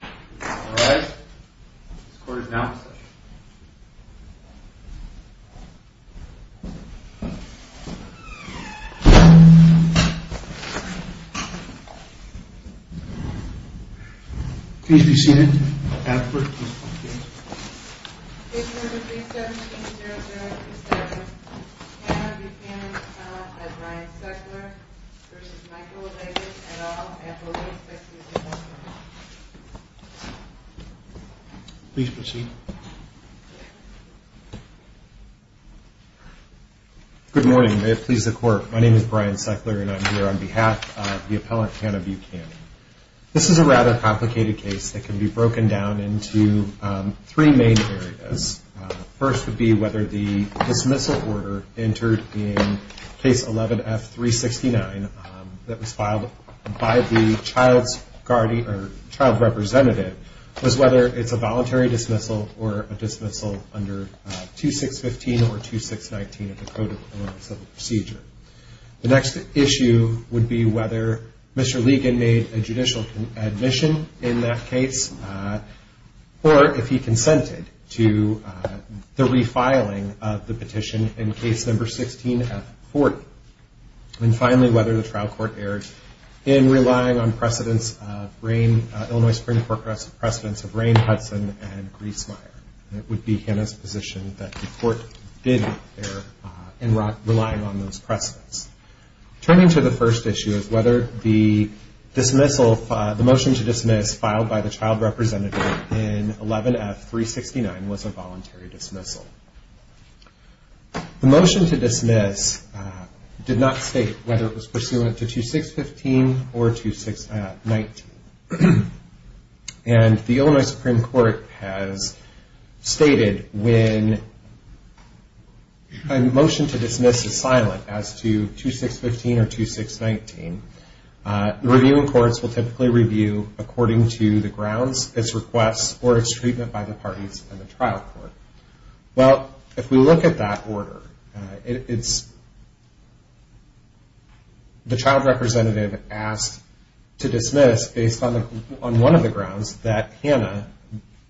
All rise. This court is now in session. Please proceed. Good morning. May it please the court. My name is Brian Seckler and I'm here on behalf of the appellant, Hannah Buchanan. This is a rather complicated case that can be broken down into three main areas. First would be whether the dismissal order entered in case 11F369 that was filed by the child's guardian or child representative was whether it's a voluntary dismissal or a dismissal under 2615 or 2619 of the Code of Elements of the Procedure. The next issue would be whether Mr. Legan made a judicial admission in that case or if he consented to the refiling of the petition in case number 16F40. And finally, whether the trial court erred in relying on precedents of Rain, Illinois Supreme Court precedents of Rain, Hudson, and Griesmeier. It would be Hannah's position that the court did err in relying on those precedents. Turning to the first issue is whether the motion to dismiss filed by the child representative in 11F369 was a voluntary dismissal. The motion to dismiss did not state whether it was pursuant to 2615 or 2619. And the Illinois Supreme Court has stated when a motion to dismiss is silent as to 2615 or 2619, the reviewing courts will typically review according to the grounds, its requests, or its treatment by the parties in the trial court. Well, if we look at that order, the child representative asked to dismiss based on one of the grounds that Hannah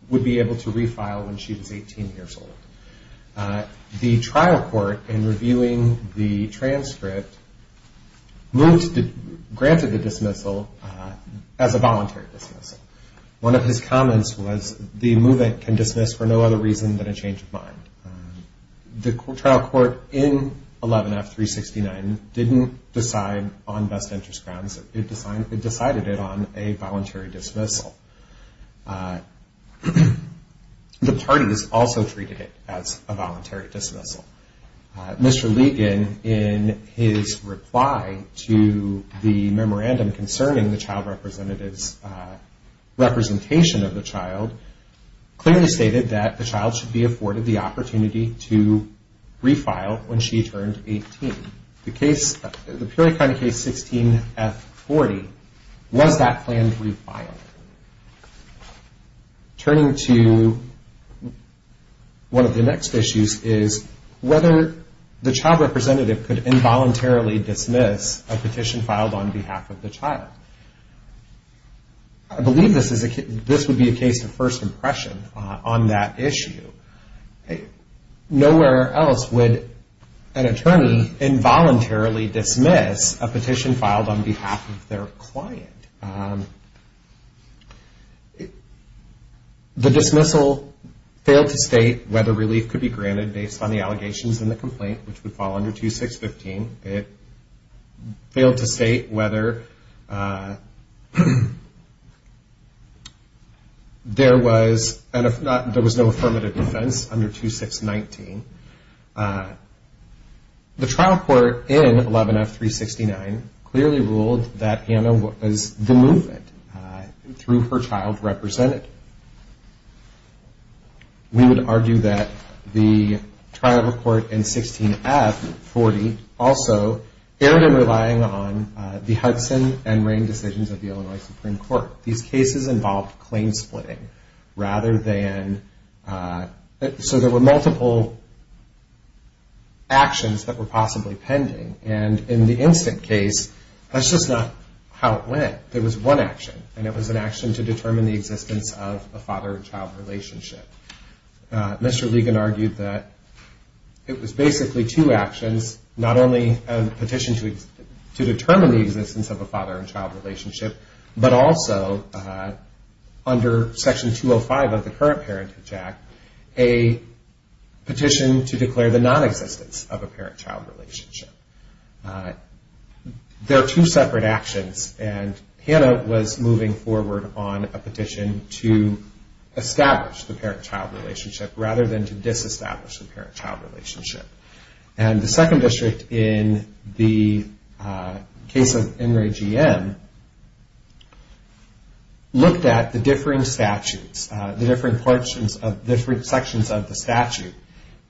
would be able to refile when she was 18 years old. The trial court, in reviewing the transcript, granted the dismissal as a voluntary dismissal. One of his comments was, the movement can dismiss for no other reason than a change of mind. The trial court in 11F369 didn't decide on best interest grounds. It decided it on a voluntary dismissal. The parties also treated it as a voluntary dismissal. Mr. Ligon, in his reply to the memorandum concerning the child representative's representation of the child, clearly stated that the child should be afforded the opportunity to refile when she turned 18. The case, the Peoria County case 16F40, was that planned refiling? Turning to one of the next issues is whether the child representative could involuntarily dismiss a petition filed on behalf of the child. I believe this would be a case of first impression on that issue. Nowhere else would an attorney involuntarily dismiss a petition filed on behalf of their client. The dismissal failed to state whether relief could be granted based on the allegations in the complaint, which would fall under 2615. It failed to state whether there was no affirmative defense under 2619. The trial court in 11F369 clearly ruled that Hannah was the movement through her child represented. We would argue that the trial court in 16F40 also erred in relying on the Hudson and Rain decisions of the Illinois Supreme Court. These cases involved claim splitting, rather than... So there were multiple actions that were possibly pending, and in the instant case, that's just not how it went. There was one action, and it was an action to determine the existence of a father and child relationship. Mr. Ligon argued that it was basically two actions, not only a petition to determine the existence of a father and child relationship, but also under Section 205 of the current Parenthood Act, a petition to declare the nonexistence of a parent-child relationship. They're two separate actions, and Hannah was moving forward on a petition to establish the parent-child relationship, rather than to disestablish the parent-child relationship. And the second district in the case of NRAGM looked at the differing statutes, the different sections of the statute,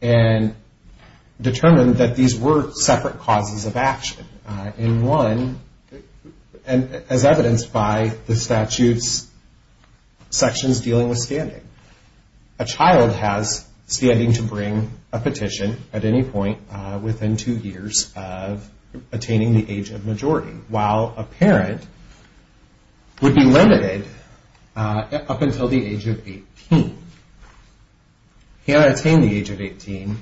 and determined that these were separate causes of action. In one, as evidenced by the statute's sections dealing with standing, a child has standing to bring a petition at any point within two years of attaining the age of majority, while a parent would be limited up until the age of 18. Hannah attained the age of 18,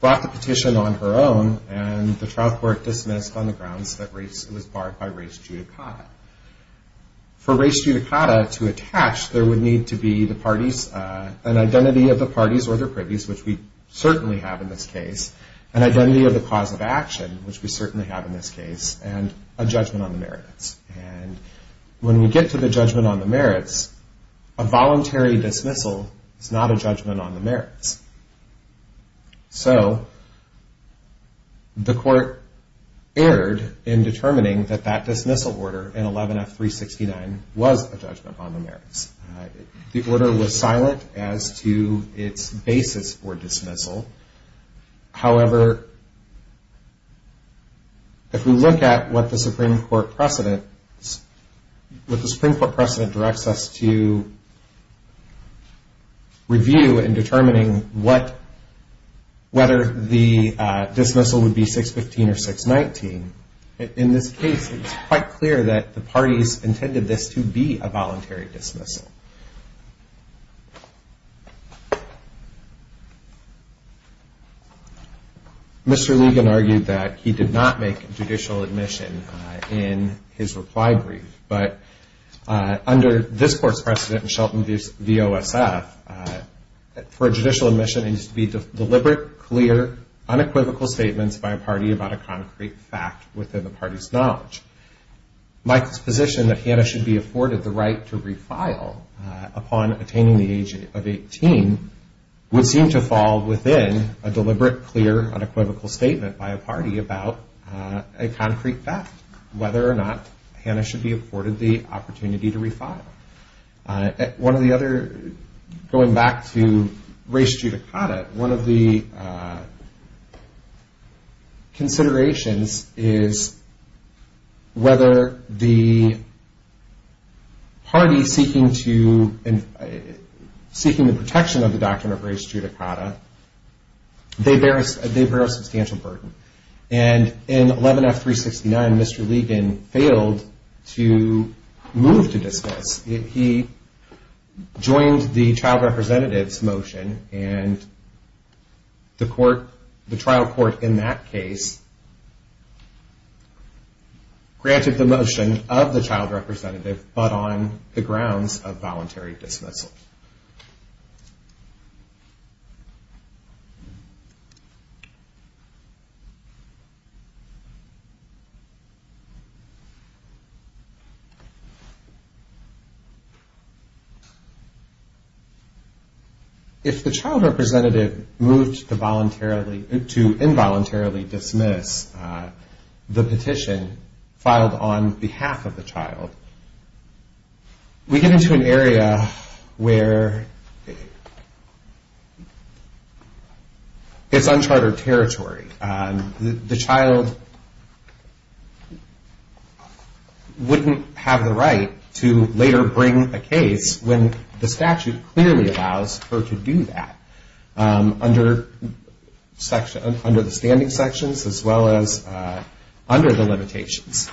brought the petition on her own, and the trial court dismissed on the grounds that it was barred by race judicata. For race judicata to attach, there would need to be an identity of the parties or their privies, which we certainly have in this case, an identity of the cause of action, which we certainly have in this case, and a judgment on the merits. And when we get to the judgment on the merits, a voluntary dismissal is not a judgment on the merits. So the court erred in determining that that dismissal order in 11F369 was a judgment on the merits. The order was silent as to its basis for dismissal. However, if we look at what the Supreme Court precedent, what the Supreme Court precedent directs us to review in determining whether the dismissal would be 615 or 619, in this case it's quite clear that the parties intended this to be a voluntary dismissal. Mr. Ligon argued that he did not make a judicial admission in his reply brief, but under this court's precedent in Shelton v. OSF, for a judicial admission it needs to be deliberate, clear, unequivocal statements by a party about a concrete fact within the party's knowledge. Michael's position that Hannah should be afforded the right to refile upon attaining the age of 18 would seem to fall within a deliberate, clear, unequivocal statement by a party about a concrete fact, whether or not Hannah should be afforded the opportunity to refile. Going back to res judicata, one of the considerations is whether the party seeking the protection of the right to refile under the doctrine of res judicata, they bear a substantial burden. And in 11F369, Mr. Ligon failed to move to dismiss. He joined the child representative's motion and the trial court in that case granted the motion of the child representative, but on the grounds of voluntary dismissal. If the child representative moved to involuntarily dismiss the petition filed on behalf of the child, we get into an area where it's uncharted territory. The child wouldn't have the right to later bring a case when the statute clearly allows her to do that, under the standing sections as well as under the limitations.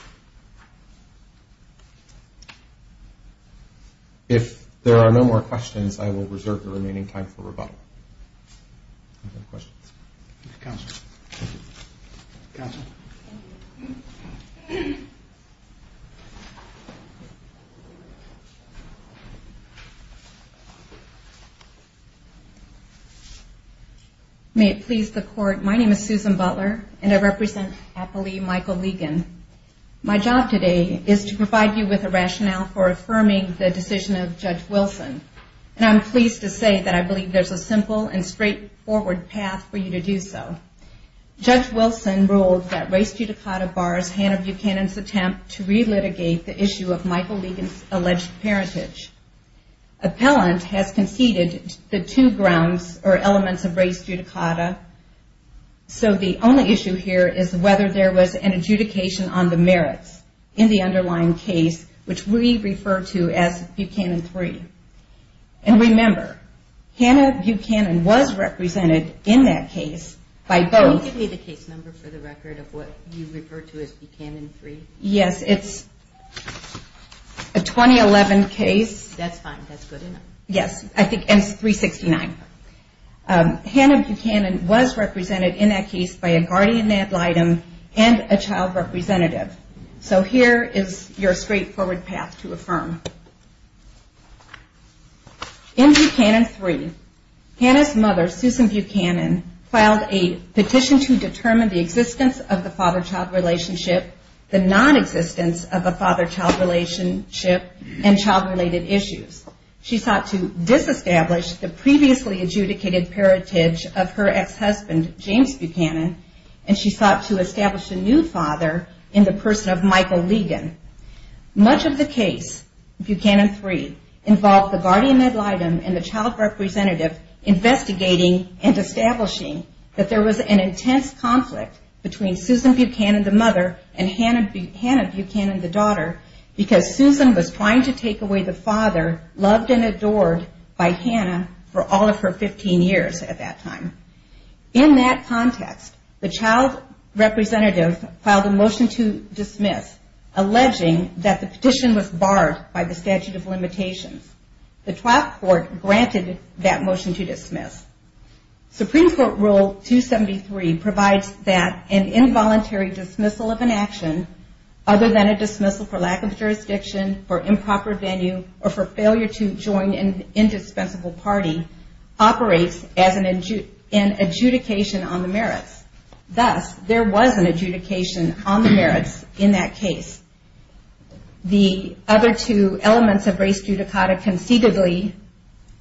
If there are no more questions, I will reserve the remaining time for rebuttal. May it please the court, my name is Susan Butler, and I represent Appali Michael Ligon. My job today is to provide you with a rationale for affirming the decision of Judge Wilson, and I'm pleased to say that I believe there's a simple and straightforward path for you to do so. Judge Wilson ruled that res judicata bars Hannah Buchanan's attempt to relitigate the issue of Michael Ligon's alleged parentage. Appellant has conceded the two grounds or elements of res judicata, so the only issue here is whether there was an adjudication on the merits in the underlying case, which we refer to as Buchanan 3. Yes, it's a 2011 case. That's fine, that's good enough. Yes, I think, and it's 369. Hannah Buchanan was represented in that case by a guardian ad litem and a child representative. So here is your straightforward path to affirm. In Buchanan 3, Hannah's mother, Susan Buchanan, filed a petition to determine the existence of the father-child relationship, the nonexistence of the father-child relationship, and child-related issues. She sought to disestablish the previously adjudicated parentage of her ex-husband, James Buchanan, and she sought to establish a new father in the person of Michael Ligon. Much of the case in Buchanan 3 involved the guardian ad litem and the child representative investigating and establishing that there was an intense conflict between Susan Buchanan, the mother, and Hannah Buchanan, the daughter, because Susan was trying to take away the father loved and adored by Hannah for all of her 15 years at that time. In that context, the child representative filed a motion to dismiss, alleging that the petition was barred by the statute of limitations. The trial court granted that motion to dismiss. Supreme Court Rule 273 provides that an involuntary dismissal of an action other than a dismissal for lack of jurisdiction, for improper venue, or for failure to join an indispensable party operates as an adjudication on the merits. Thus, there was an adjudication on the merits in that case. The other two elements of res judicata conceivably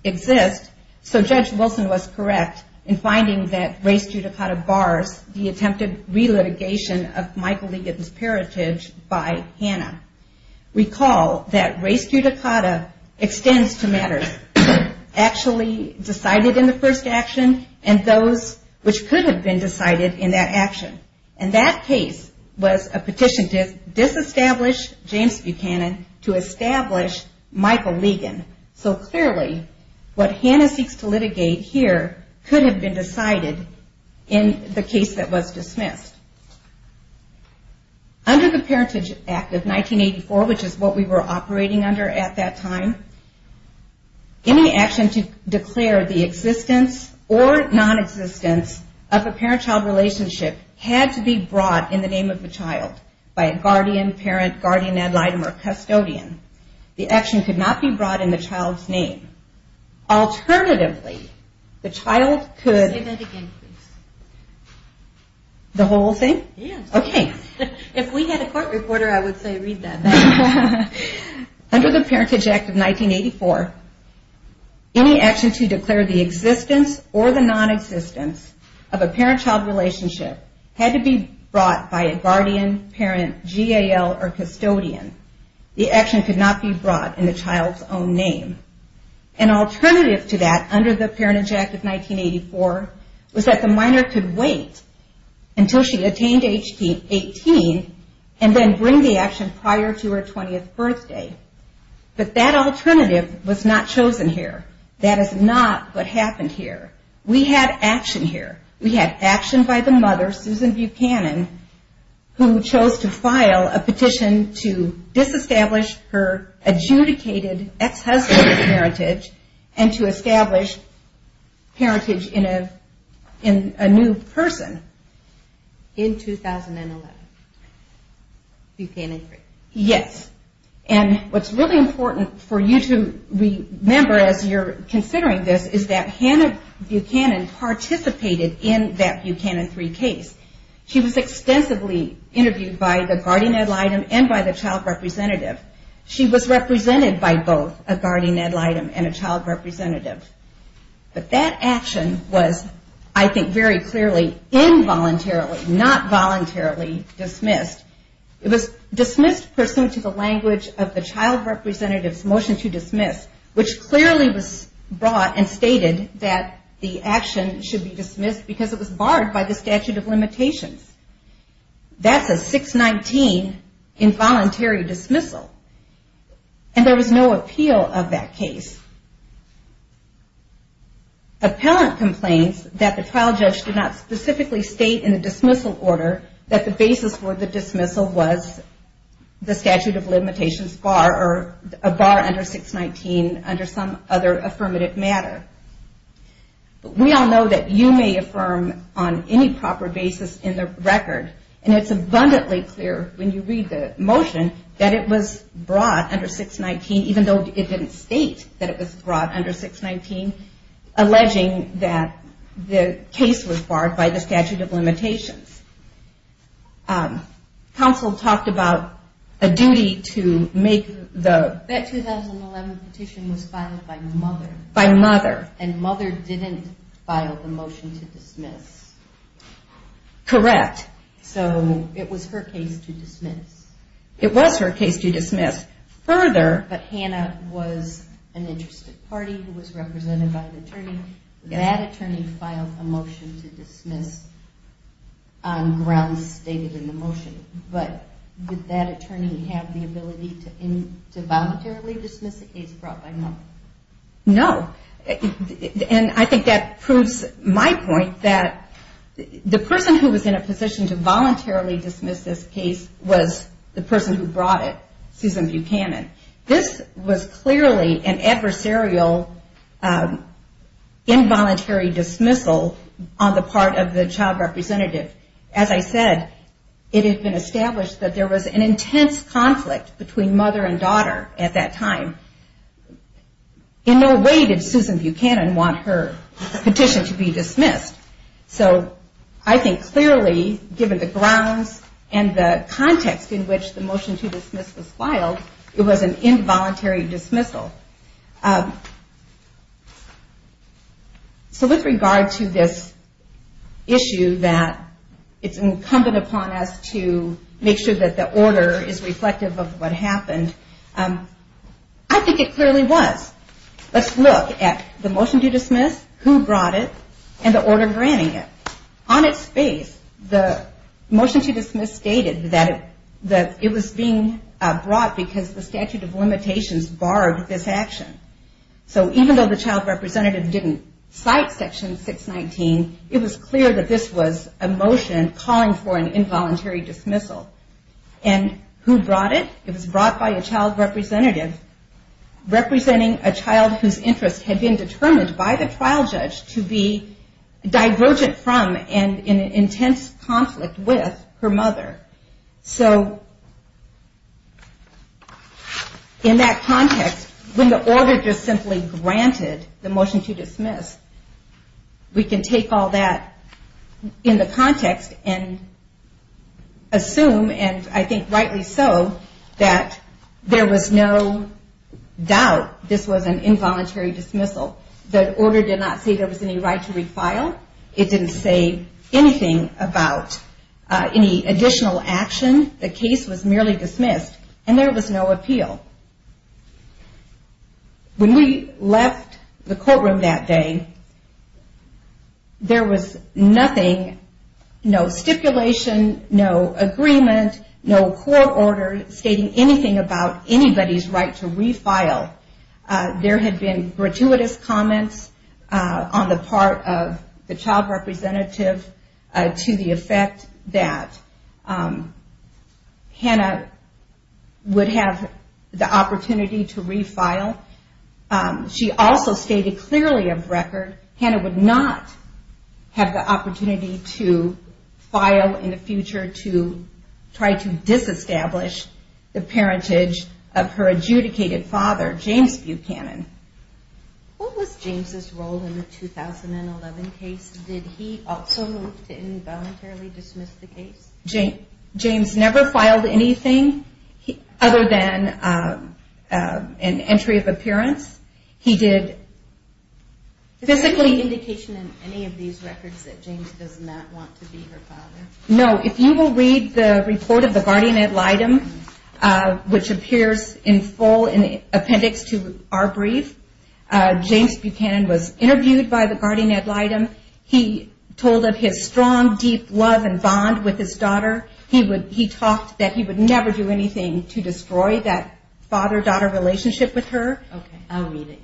exist, so Judge Wilson was correct in finding that res judicata bars the attempted relitigation of Michael Ligon's heritage by Hannah. Recall that res judicata extends to matters actually decided in the first action and those which could have been decided in that action. And that case was a petition to disestablish James Buchanan to establish Michael Ligon. So clearly, what Hannah seeks to litigate here could have been decided in the case that was dismissed. Under the Parentage Act of 1984, which is what we were operating under at that time, any action to declare the existence or non-existence of a parent-child relationship had to be brought in the name of the child by a guardian, parent, guardian ad litem, or custodian. The action could not be brought in the child's name. Alternatively, the child could... Under the Parentage Act of 1984, any action to declare the existence or the non-existence of a parent-child relationship had to be brought by a guardian, parent, GAL, or custodian. The action could not be brought in the child's own name. An alternative to that under the Parentage Act of 1984 was that the minor could wait until she attained age 18 and then bring the action prior to her 20th birthday. But that alternative was not chosen here. That is not what happened here. We had action here. We had action by the mother, Susan Buchanan, who chose to file a petition to disestablish her adjudicated ex-husband's parentage and to establish parentage in a new person. In 2011. Yes. And what's really important for you to remember as you're considering this is that Hannah Buchanan participated in that Buchanan 3 case. She was extensively interviewed by the guardian ad litem and by the child representative. She was represented by both a guardian ad litem and a child representative. But that action was, I think, very clearly involuntarily, not voluntarily dismissed. It was dismissed pursuant to the language of the child representative's motion to dismiss, which clearly was brought and stated that the action should be dismissed because it was barred by the statute of limitations. That's a 619 involuntary dismissal. And there was no appeal of that case. Appellant complains that the trial judge did not specifically state in the dismissal order that the basis for the dismissal was the statute of limitations bar or a bar under 619 under some other affirmative matter. We all know that you may affirm on any proper basis in the record and it's abundantly clear when you read the motion that it was brought under 619 even though it didn't state that it was brought under 619. Alleging that the case was barred by the statute of limitations. Counsel talked about a duty to make the... That 2011 petition was filed by Mother. By Mother. Correct. So it was her case to dismiss. It was her case to dismiss. Further... That attorney filed a motion to dismiss on grounds stated in the motion. But would that attorney have the ability to voluntarily dismiss a case brought by Mother? No. And I think that proves my point that the person who was in a position to voluntarily dismiss this case was the person who brought it, Susan Buchanan. This was clearly an adversarial involuntary dismissal on the part of the child representative. As I said, it had been established that there was an intense conflict between Mother and Daughter at that time. In no way did Susan Buchanan want her petition to be dismissed. So I think clearly given the grounds and the context in which the motion to dismiss was filed, it was an involuntary dismissal. So with regard to this issue that it's incumbent upon us to make sure that the order is reflective of what happened, I think it clearly was. Let's look at the motion to dismiss, who brought it, and the order granting it. On its face, the motion to dismiss stated that it was being brought because the statute of limitations barred this action. So even though the child representative didn't cite section 619, it was clear that this was a motion calling for an involuntary dismissal. And who brought it? It was brought by a child representative representing a child whose interest had been determined by the trial judge to be divergent from and in an intense conflict with her mother. So in that context, when the order just simply granted the motion to dismiss, we can take all that in the context and assume, and I think rightly so, that there was no doubt this was an involuntary dismissal. The order did not say there was any right to refile. It didn't say anything about any additional action. The case was merely dismissed, and there was no appeal. When we left the courtroom that day, there was nothing, no stipulation, no agreement, no court order stating anything about anybody's right to refile. There had been gratuitous comments on the part of the child representative to the effect that Hannah would have the opportunity to refile. She also stated clearly of record Hannah would not have the opportunity to file in the future to try to disestablish the parentage of her adjudicated father. What was James' role in the 2011 case? Did he also move to involuntarily dismiss the case? James never filed anything other than an entry of appearance. Is there any indication in any of these records that James does not want to be her father? No. If you will read the report of the guardian ad litem, which appears in full appendix to our brief, James Buchanan was interviewed by the guardian ad litem. He told of his strong, deep love and bond with his daughter. He talked that he would never do anything to destroy that father-daughter relationship with her. I'll read it.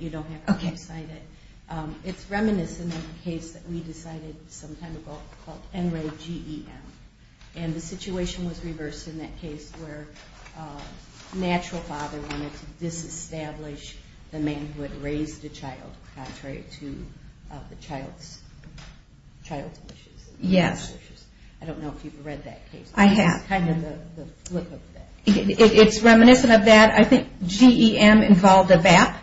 It's reminiscent of a case that we decided some time ago called NREGEM. The situation was reversed in that case where a natural father wanted to disestablish the man who had raised a child contrary to the child's wishes. I don't know if you've read that case. I have. It's reminiscent of that. I think GEM involved a VAP,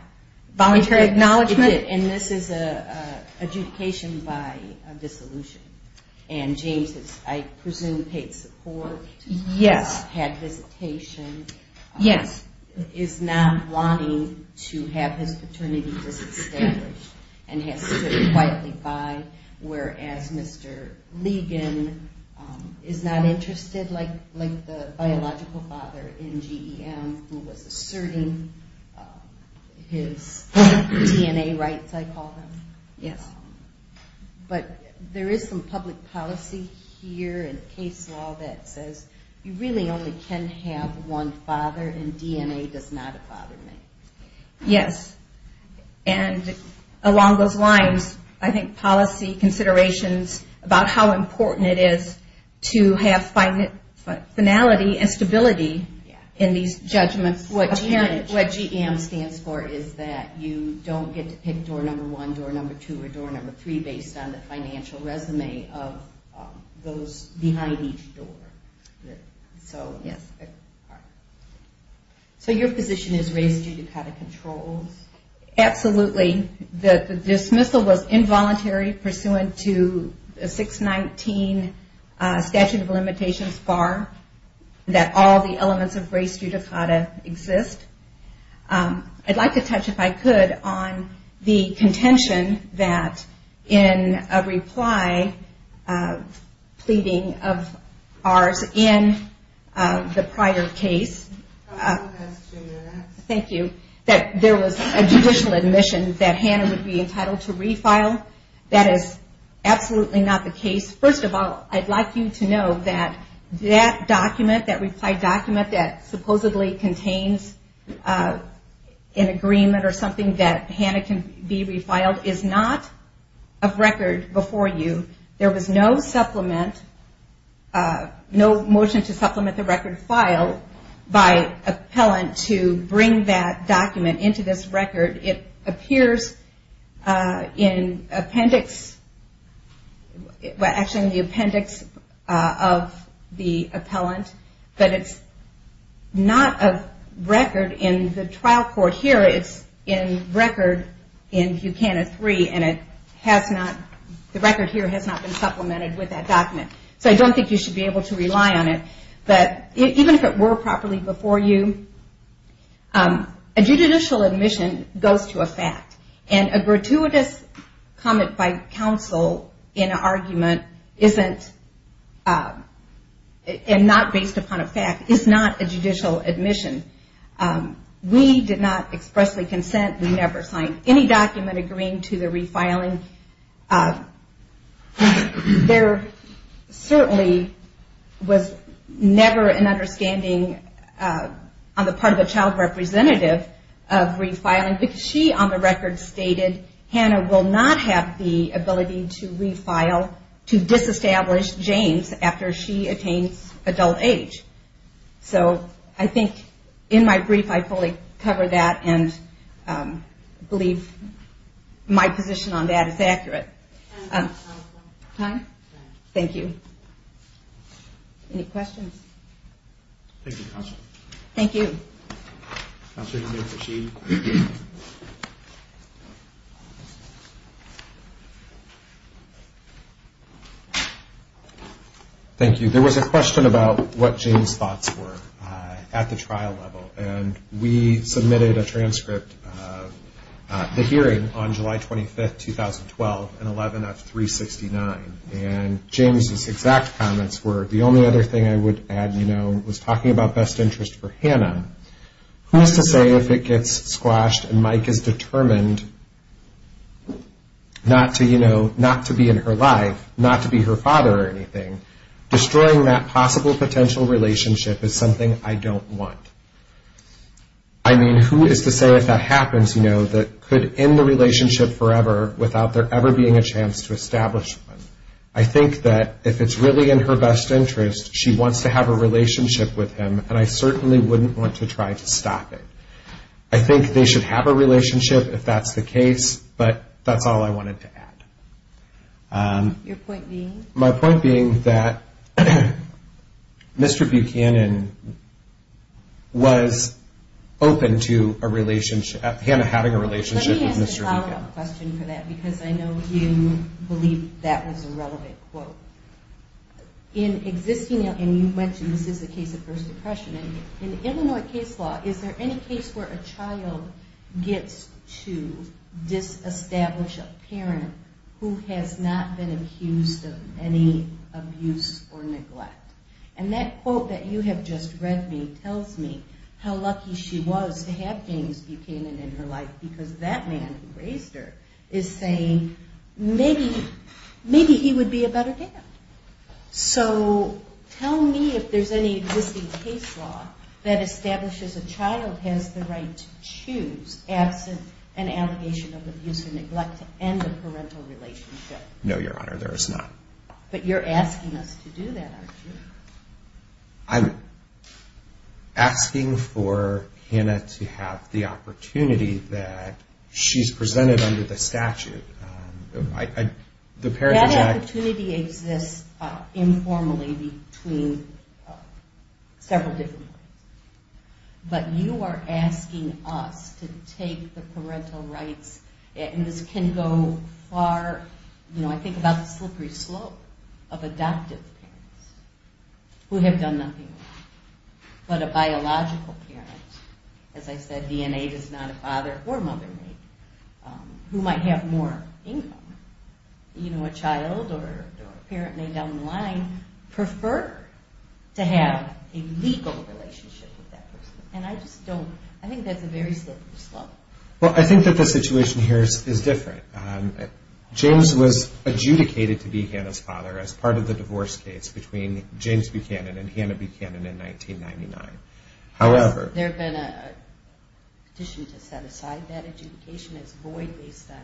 Voluntary Acknowledgement. And this is an adjudication by a dissolution. And James has, I presume, paid support? Yes. He has had visitation, is not wanting to have his paternity disestablished, and has stood quietly by. Whereas Mr. Ligon is not interested like the biological father in GEM who was asserting his DNA rights, I call them. Yes. But there is some public policy here in case law that says you really only can have one father and DNA does not a father make. Yes. And along those lines, I think policy considerations about how important it is to have finality and stability in these judgments. What GEM stands for is that you don't get to pick door number one, door number two, or door number three. Based on the financial resume of those behind each door. So your position is race judicata controls? Absolutely. The dismissal was involuntary pursuant to 619 statute of limitations bar that all the elements of race judicata exist. I'd like to touch, if I could, on the contention that in a reply pleading of ours in the prior case, thank you, that there was a judicial admission that Hannah would be entitled to refile. That is absolutely not the case. First of all, I'd like you to know that that document, that reply document that supposedly contains an agreement or something that Hannah can be refiled is not a record before you. There was no supplement, no motion to supplement the record file by appellant to bring that document into this record. It appears in appendix, actually it's not in appendix one. I'm watching the appendix of the appellant. But it's not a record in the trial court here. It's in record in Buchanan three and it has not, the record here has not been supplemented with that document. So I don't think you should be able to rely on it. But even if it were properly before you, a judicial admission goes to a fact. And a gratuitous comment by counsel in an argument isn't, and not based upon a fact, is not a judicial admission. We did not expressly consent, we never signed any document agreeing to the refiling. There certainly was never an understanding on the part of a child representative of refiling because she on the record did not agree to the refiling. And I think in my brief I fully cover that and believe my position on that is accurate. Thank you. Any questions? Thank you. There was a question about what James' thoughts were at the trial level. And we submitted a transcript of the hearing on July 25, 2012, an 11 of 369. And James' exact comments were, the only other thing I would add, you know, was talking about best interest for Hannah. Who is to say if it gets squashed and Mike is determined not to be in her life, not to be her father or anything, destroying that possible potential relationship is something I don't want. I mean, who is to say if that happens, you know, that could end the relationship forever without there ever being a chance to establish one? I think that if it's really in her best interest, she wants to have a relationship with him. And I certainly wouldn't want to try to stop it. I think they should have a relationship if that's the case, but that's all I wanted to add. Your point being? My point being that Mr. Buchanan was open to a relationship, Hannah having a relationship with Mr. Buchanan. Let me ask a follow-up question for that, because I know you believe that was a relevant quote. In existing, and you mentioned this is a case of first impression, in Illinois case law, is there any case where a child gets to disestablish a parent who has not been accused of any abuse or neglect? And that quote that you have just read me tells me how lucky she was to have James Buchanan in her life, because that makes it clear that the man who raised her is saying maybe he would be a better dad. So tell me if there's any existing case law that establishes a child has the right to choose absent an allegation of abuse or neglect to end a parental relationship. No, Your Honor, there is not. But you're asking us to do that, aren't you? I'm asking for Hannah to have the opportunity that she's presented under the statute. That opportunity exists informally between several different courts. But you are asking us to take the parental rights, and this can go far. You know, I think about the slippery slope of adoptive parents who have done nothing wrong. But a biological parent, as I said, DNA does not a father or mother make, who might have more income. You know, a child or a parent may down the line prefer to have a legal relationship with that person. And I just don't, I think that's a very slippery slope. Well, I think that the situation here is different. James was adjudicated to be Hannah's father as part of the divorce case between James Buchanan and Hannah Buchanan in 1999. However... Has there been a petition to set aside that adjudication as void based on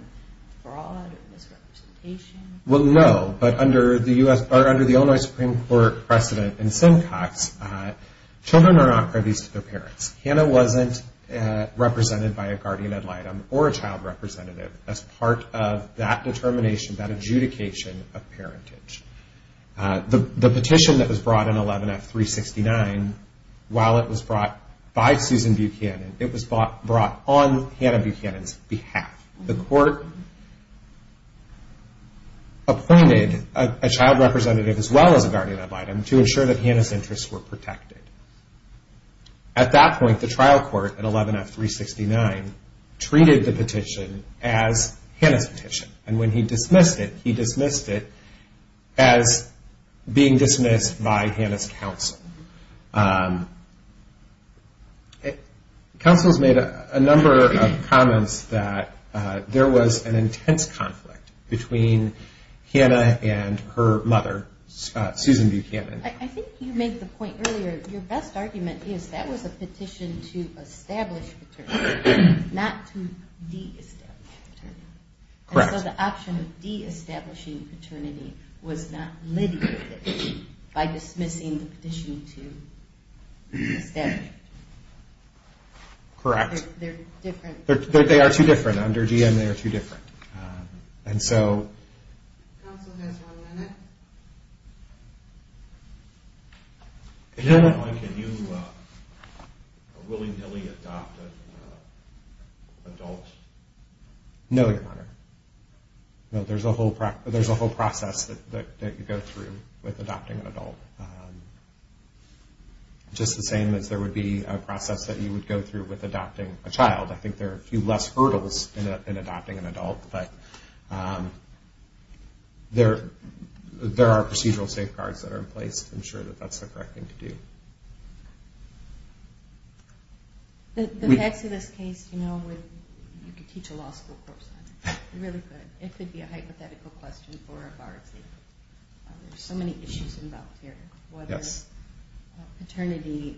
fraud or misrepresentation? Well, no. But under the Illinois Supreme Court precedent in Simcox, children are not privies to their parents. Hannah wasn't represented by a guardian ad litem or a child representative as part of that determination, that adjudication of parentage. The petition that was brought in 11-F-369, while it was brought by Susan Buchanan, it was brought on Hannah Buchanan's behalf. The court appointed a child representative as well as a guardian ad litem to ensure that Hannah's interests were protected. At that point, the trial court at 11-F-369 treated the petition as Hannah's petition. And when he dismissed it, he dismissed it as being dismissed by Hannah's counsel. Counsel's made a number of comments that there was an intense conflict between Hannah and her mother, Susan Buchanan. I think you made the point earlier, your best argument is that was a petition to establish paternity, not to de-establish paternity. And so the option of de-establishing paternity was not litigated by dismissing the petition. It was a petition to establish paternity. They're different. Counsel has one minute. At what point can you willy-nilly adopt an adult? No, Your Honor. There's a whole process that you go through with adopting an adult. Just the same as there would be a process that you would go through with adopting a child. I think there are a few less hurdles in adopting an adult, but there are procedural safeguards that are in place to ensure that that's the correct thing to do. The facts of this case, you know, you could teach a law school course on it. You really could. It could be a hypothetical question for a bar exam. There's so many issues involved here, whether paternity,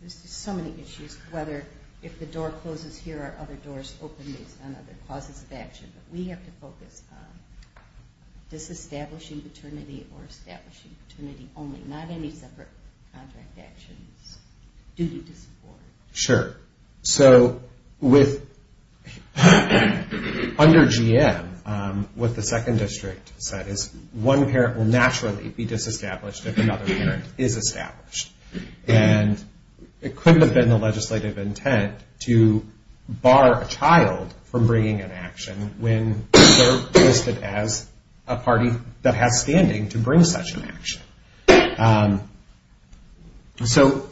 there's just so many issues. Whether if the door closes here or other doors open based on other causes of action. We have to focus on de-establishing paternity or establishing paternity only. Not any separate contract actions. Sure. So under GM, what the second district said is one parent will naturally be de-established if another parent is established. And it couldn't have been the legislative intent to bar a child from bringing an action when they're listed as a party that has standing to bring such an action. So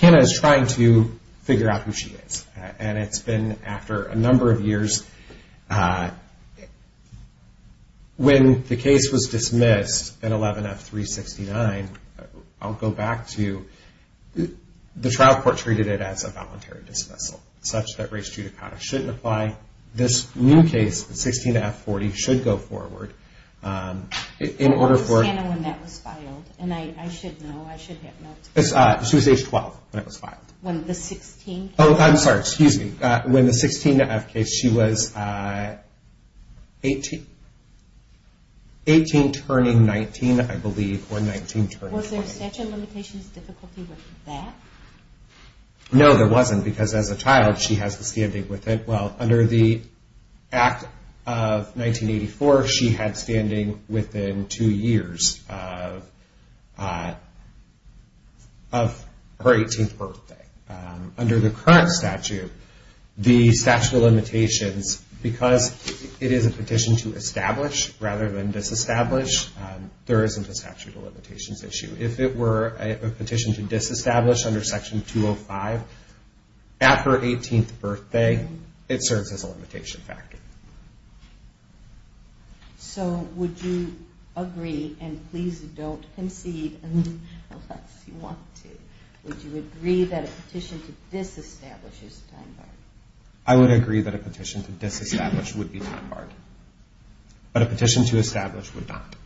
Hanna is trying to figure out who she is. And it's been after a number of years. When the case was dismissed in 11F369, I'll go back to the trial court treated it as a voluntary dismissal, such that race judicata shouldn't apply. This new case, 16F40, should go forward. When was Hanna when that was filed? She was age 12 when it was filed. I'm sorry, excuse me. When the 16F case, she was 18 turning 19, I believe. Was there a statute of limitations difficulty with that? No, there wasn't, because as a child she has the standing with it. Well, under the Act of 1984, she had standing within two years of her 18th birthday. Under the current statute, the statute of limitations, because it is a petition to establish rather than de-establish, there isn't a statute of limitations issue. If it were a petition to de-establish under Section 205, at her 18th birthday, it serves as a limitation factor. So would you agree, and please don't concede unless you want to, would you agree that a petition to de-establish is time-barred? I would agree that a petition to de-establish would be time-barred. But a petition to establish would not.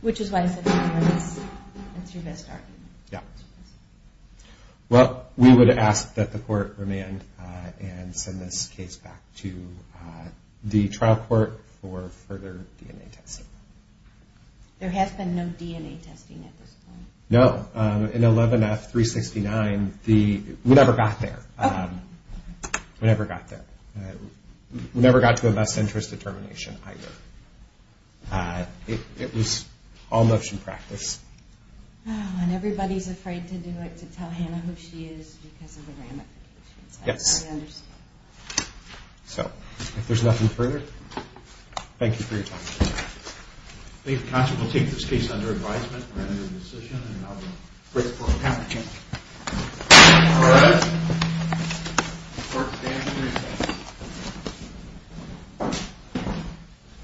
Which is why I said time-barred is your best argument. Well, we would ask that the court remand and send this case back to the trial court for further DNA testing. There has been no DNA testing at this point? No, in 11F369, we never got there. We never got to a best interest determination either. It was all motion practice. Oh, and everybody is afraid to do it, to tell Hannah who she is because of the ramifications. Yes. So, if there is nothing further, thank you for your time. Thank you.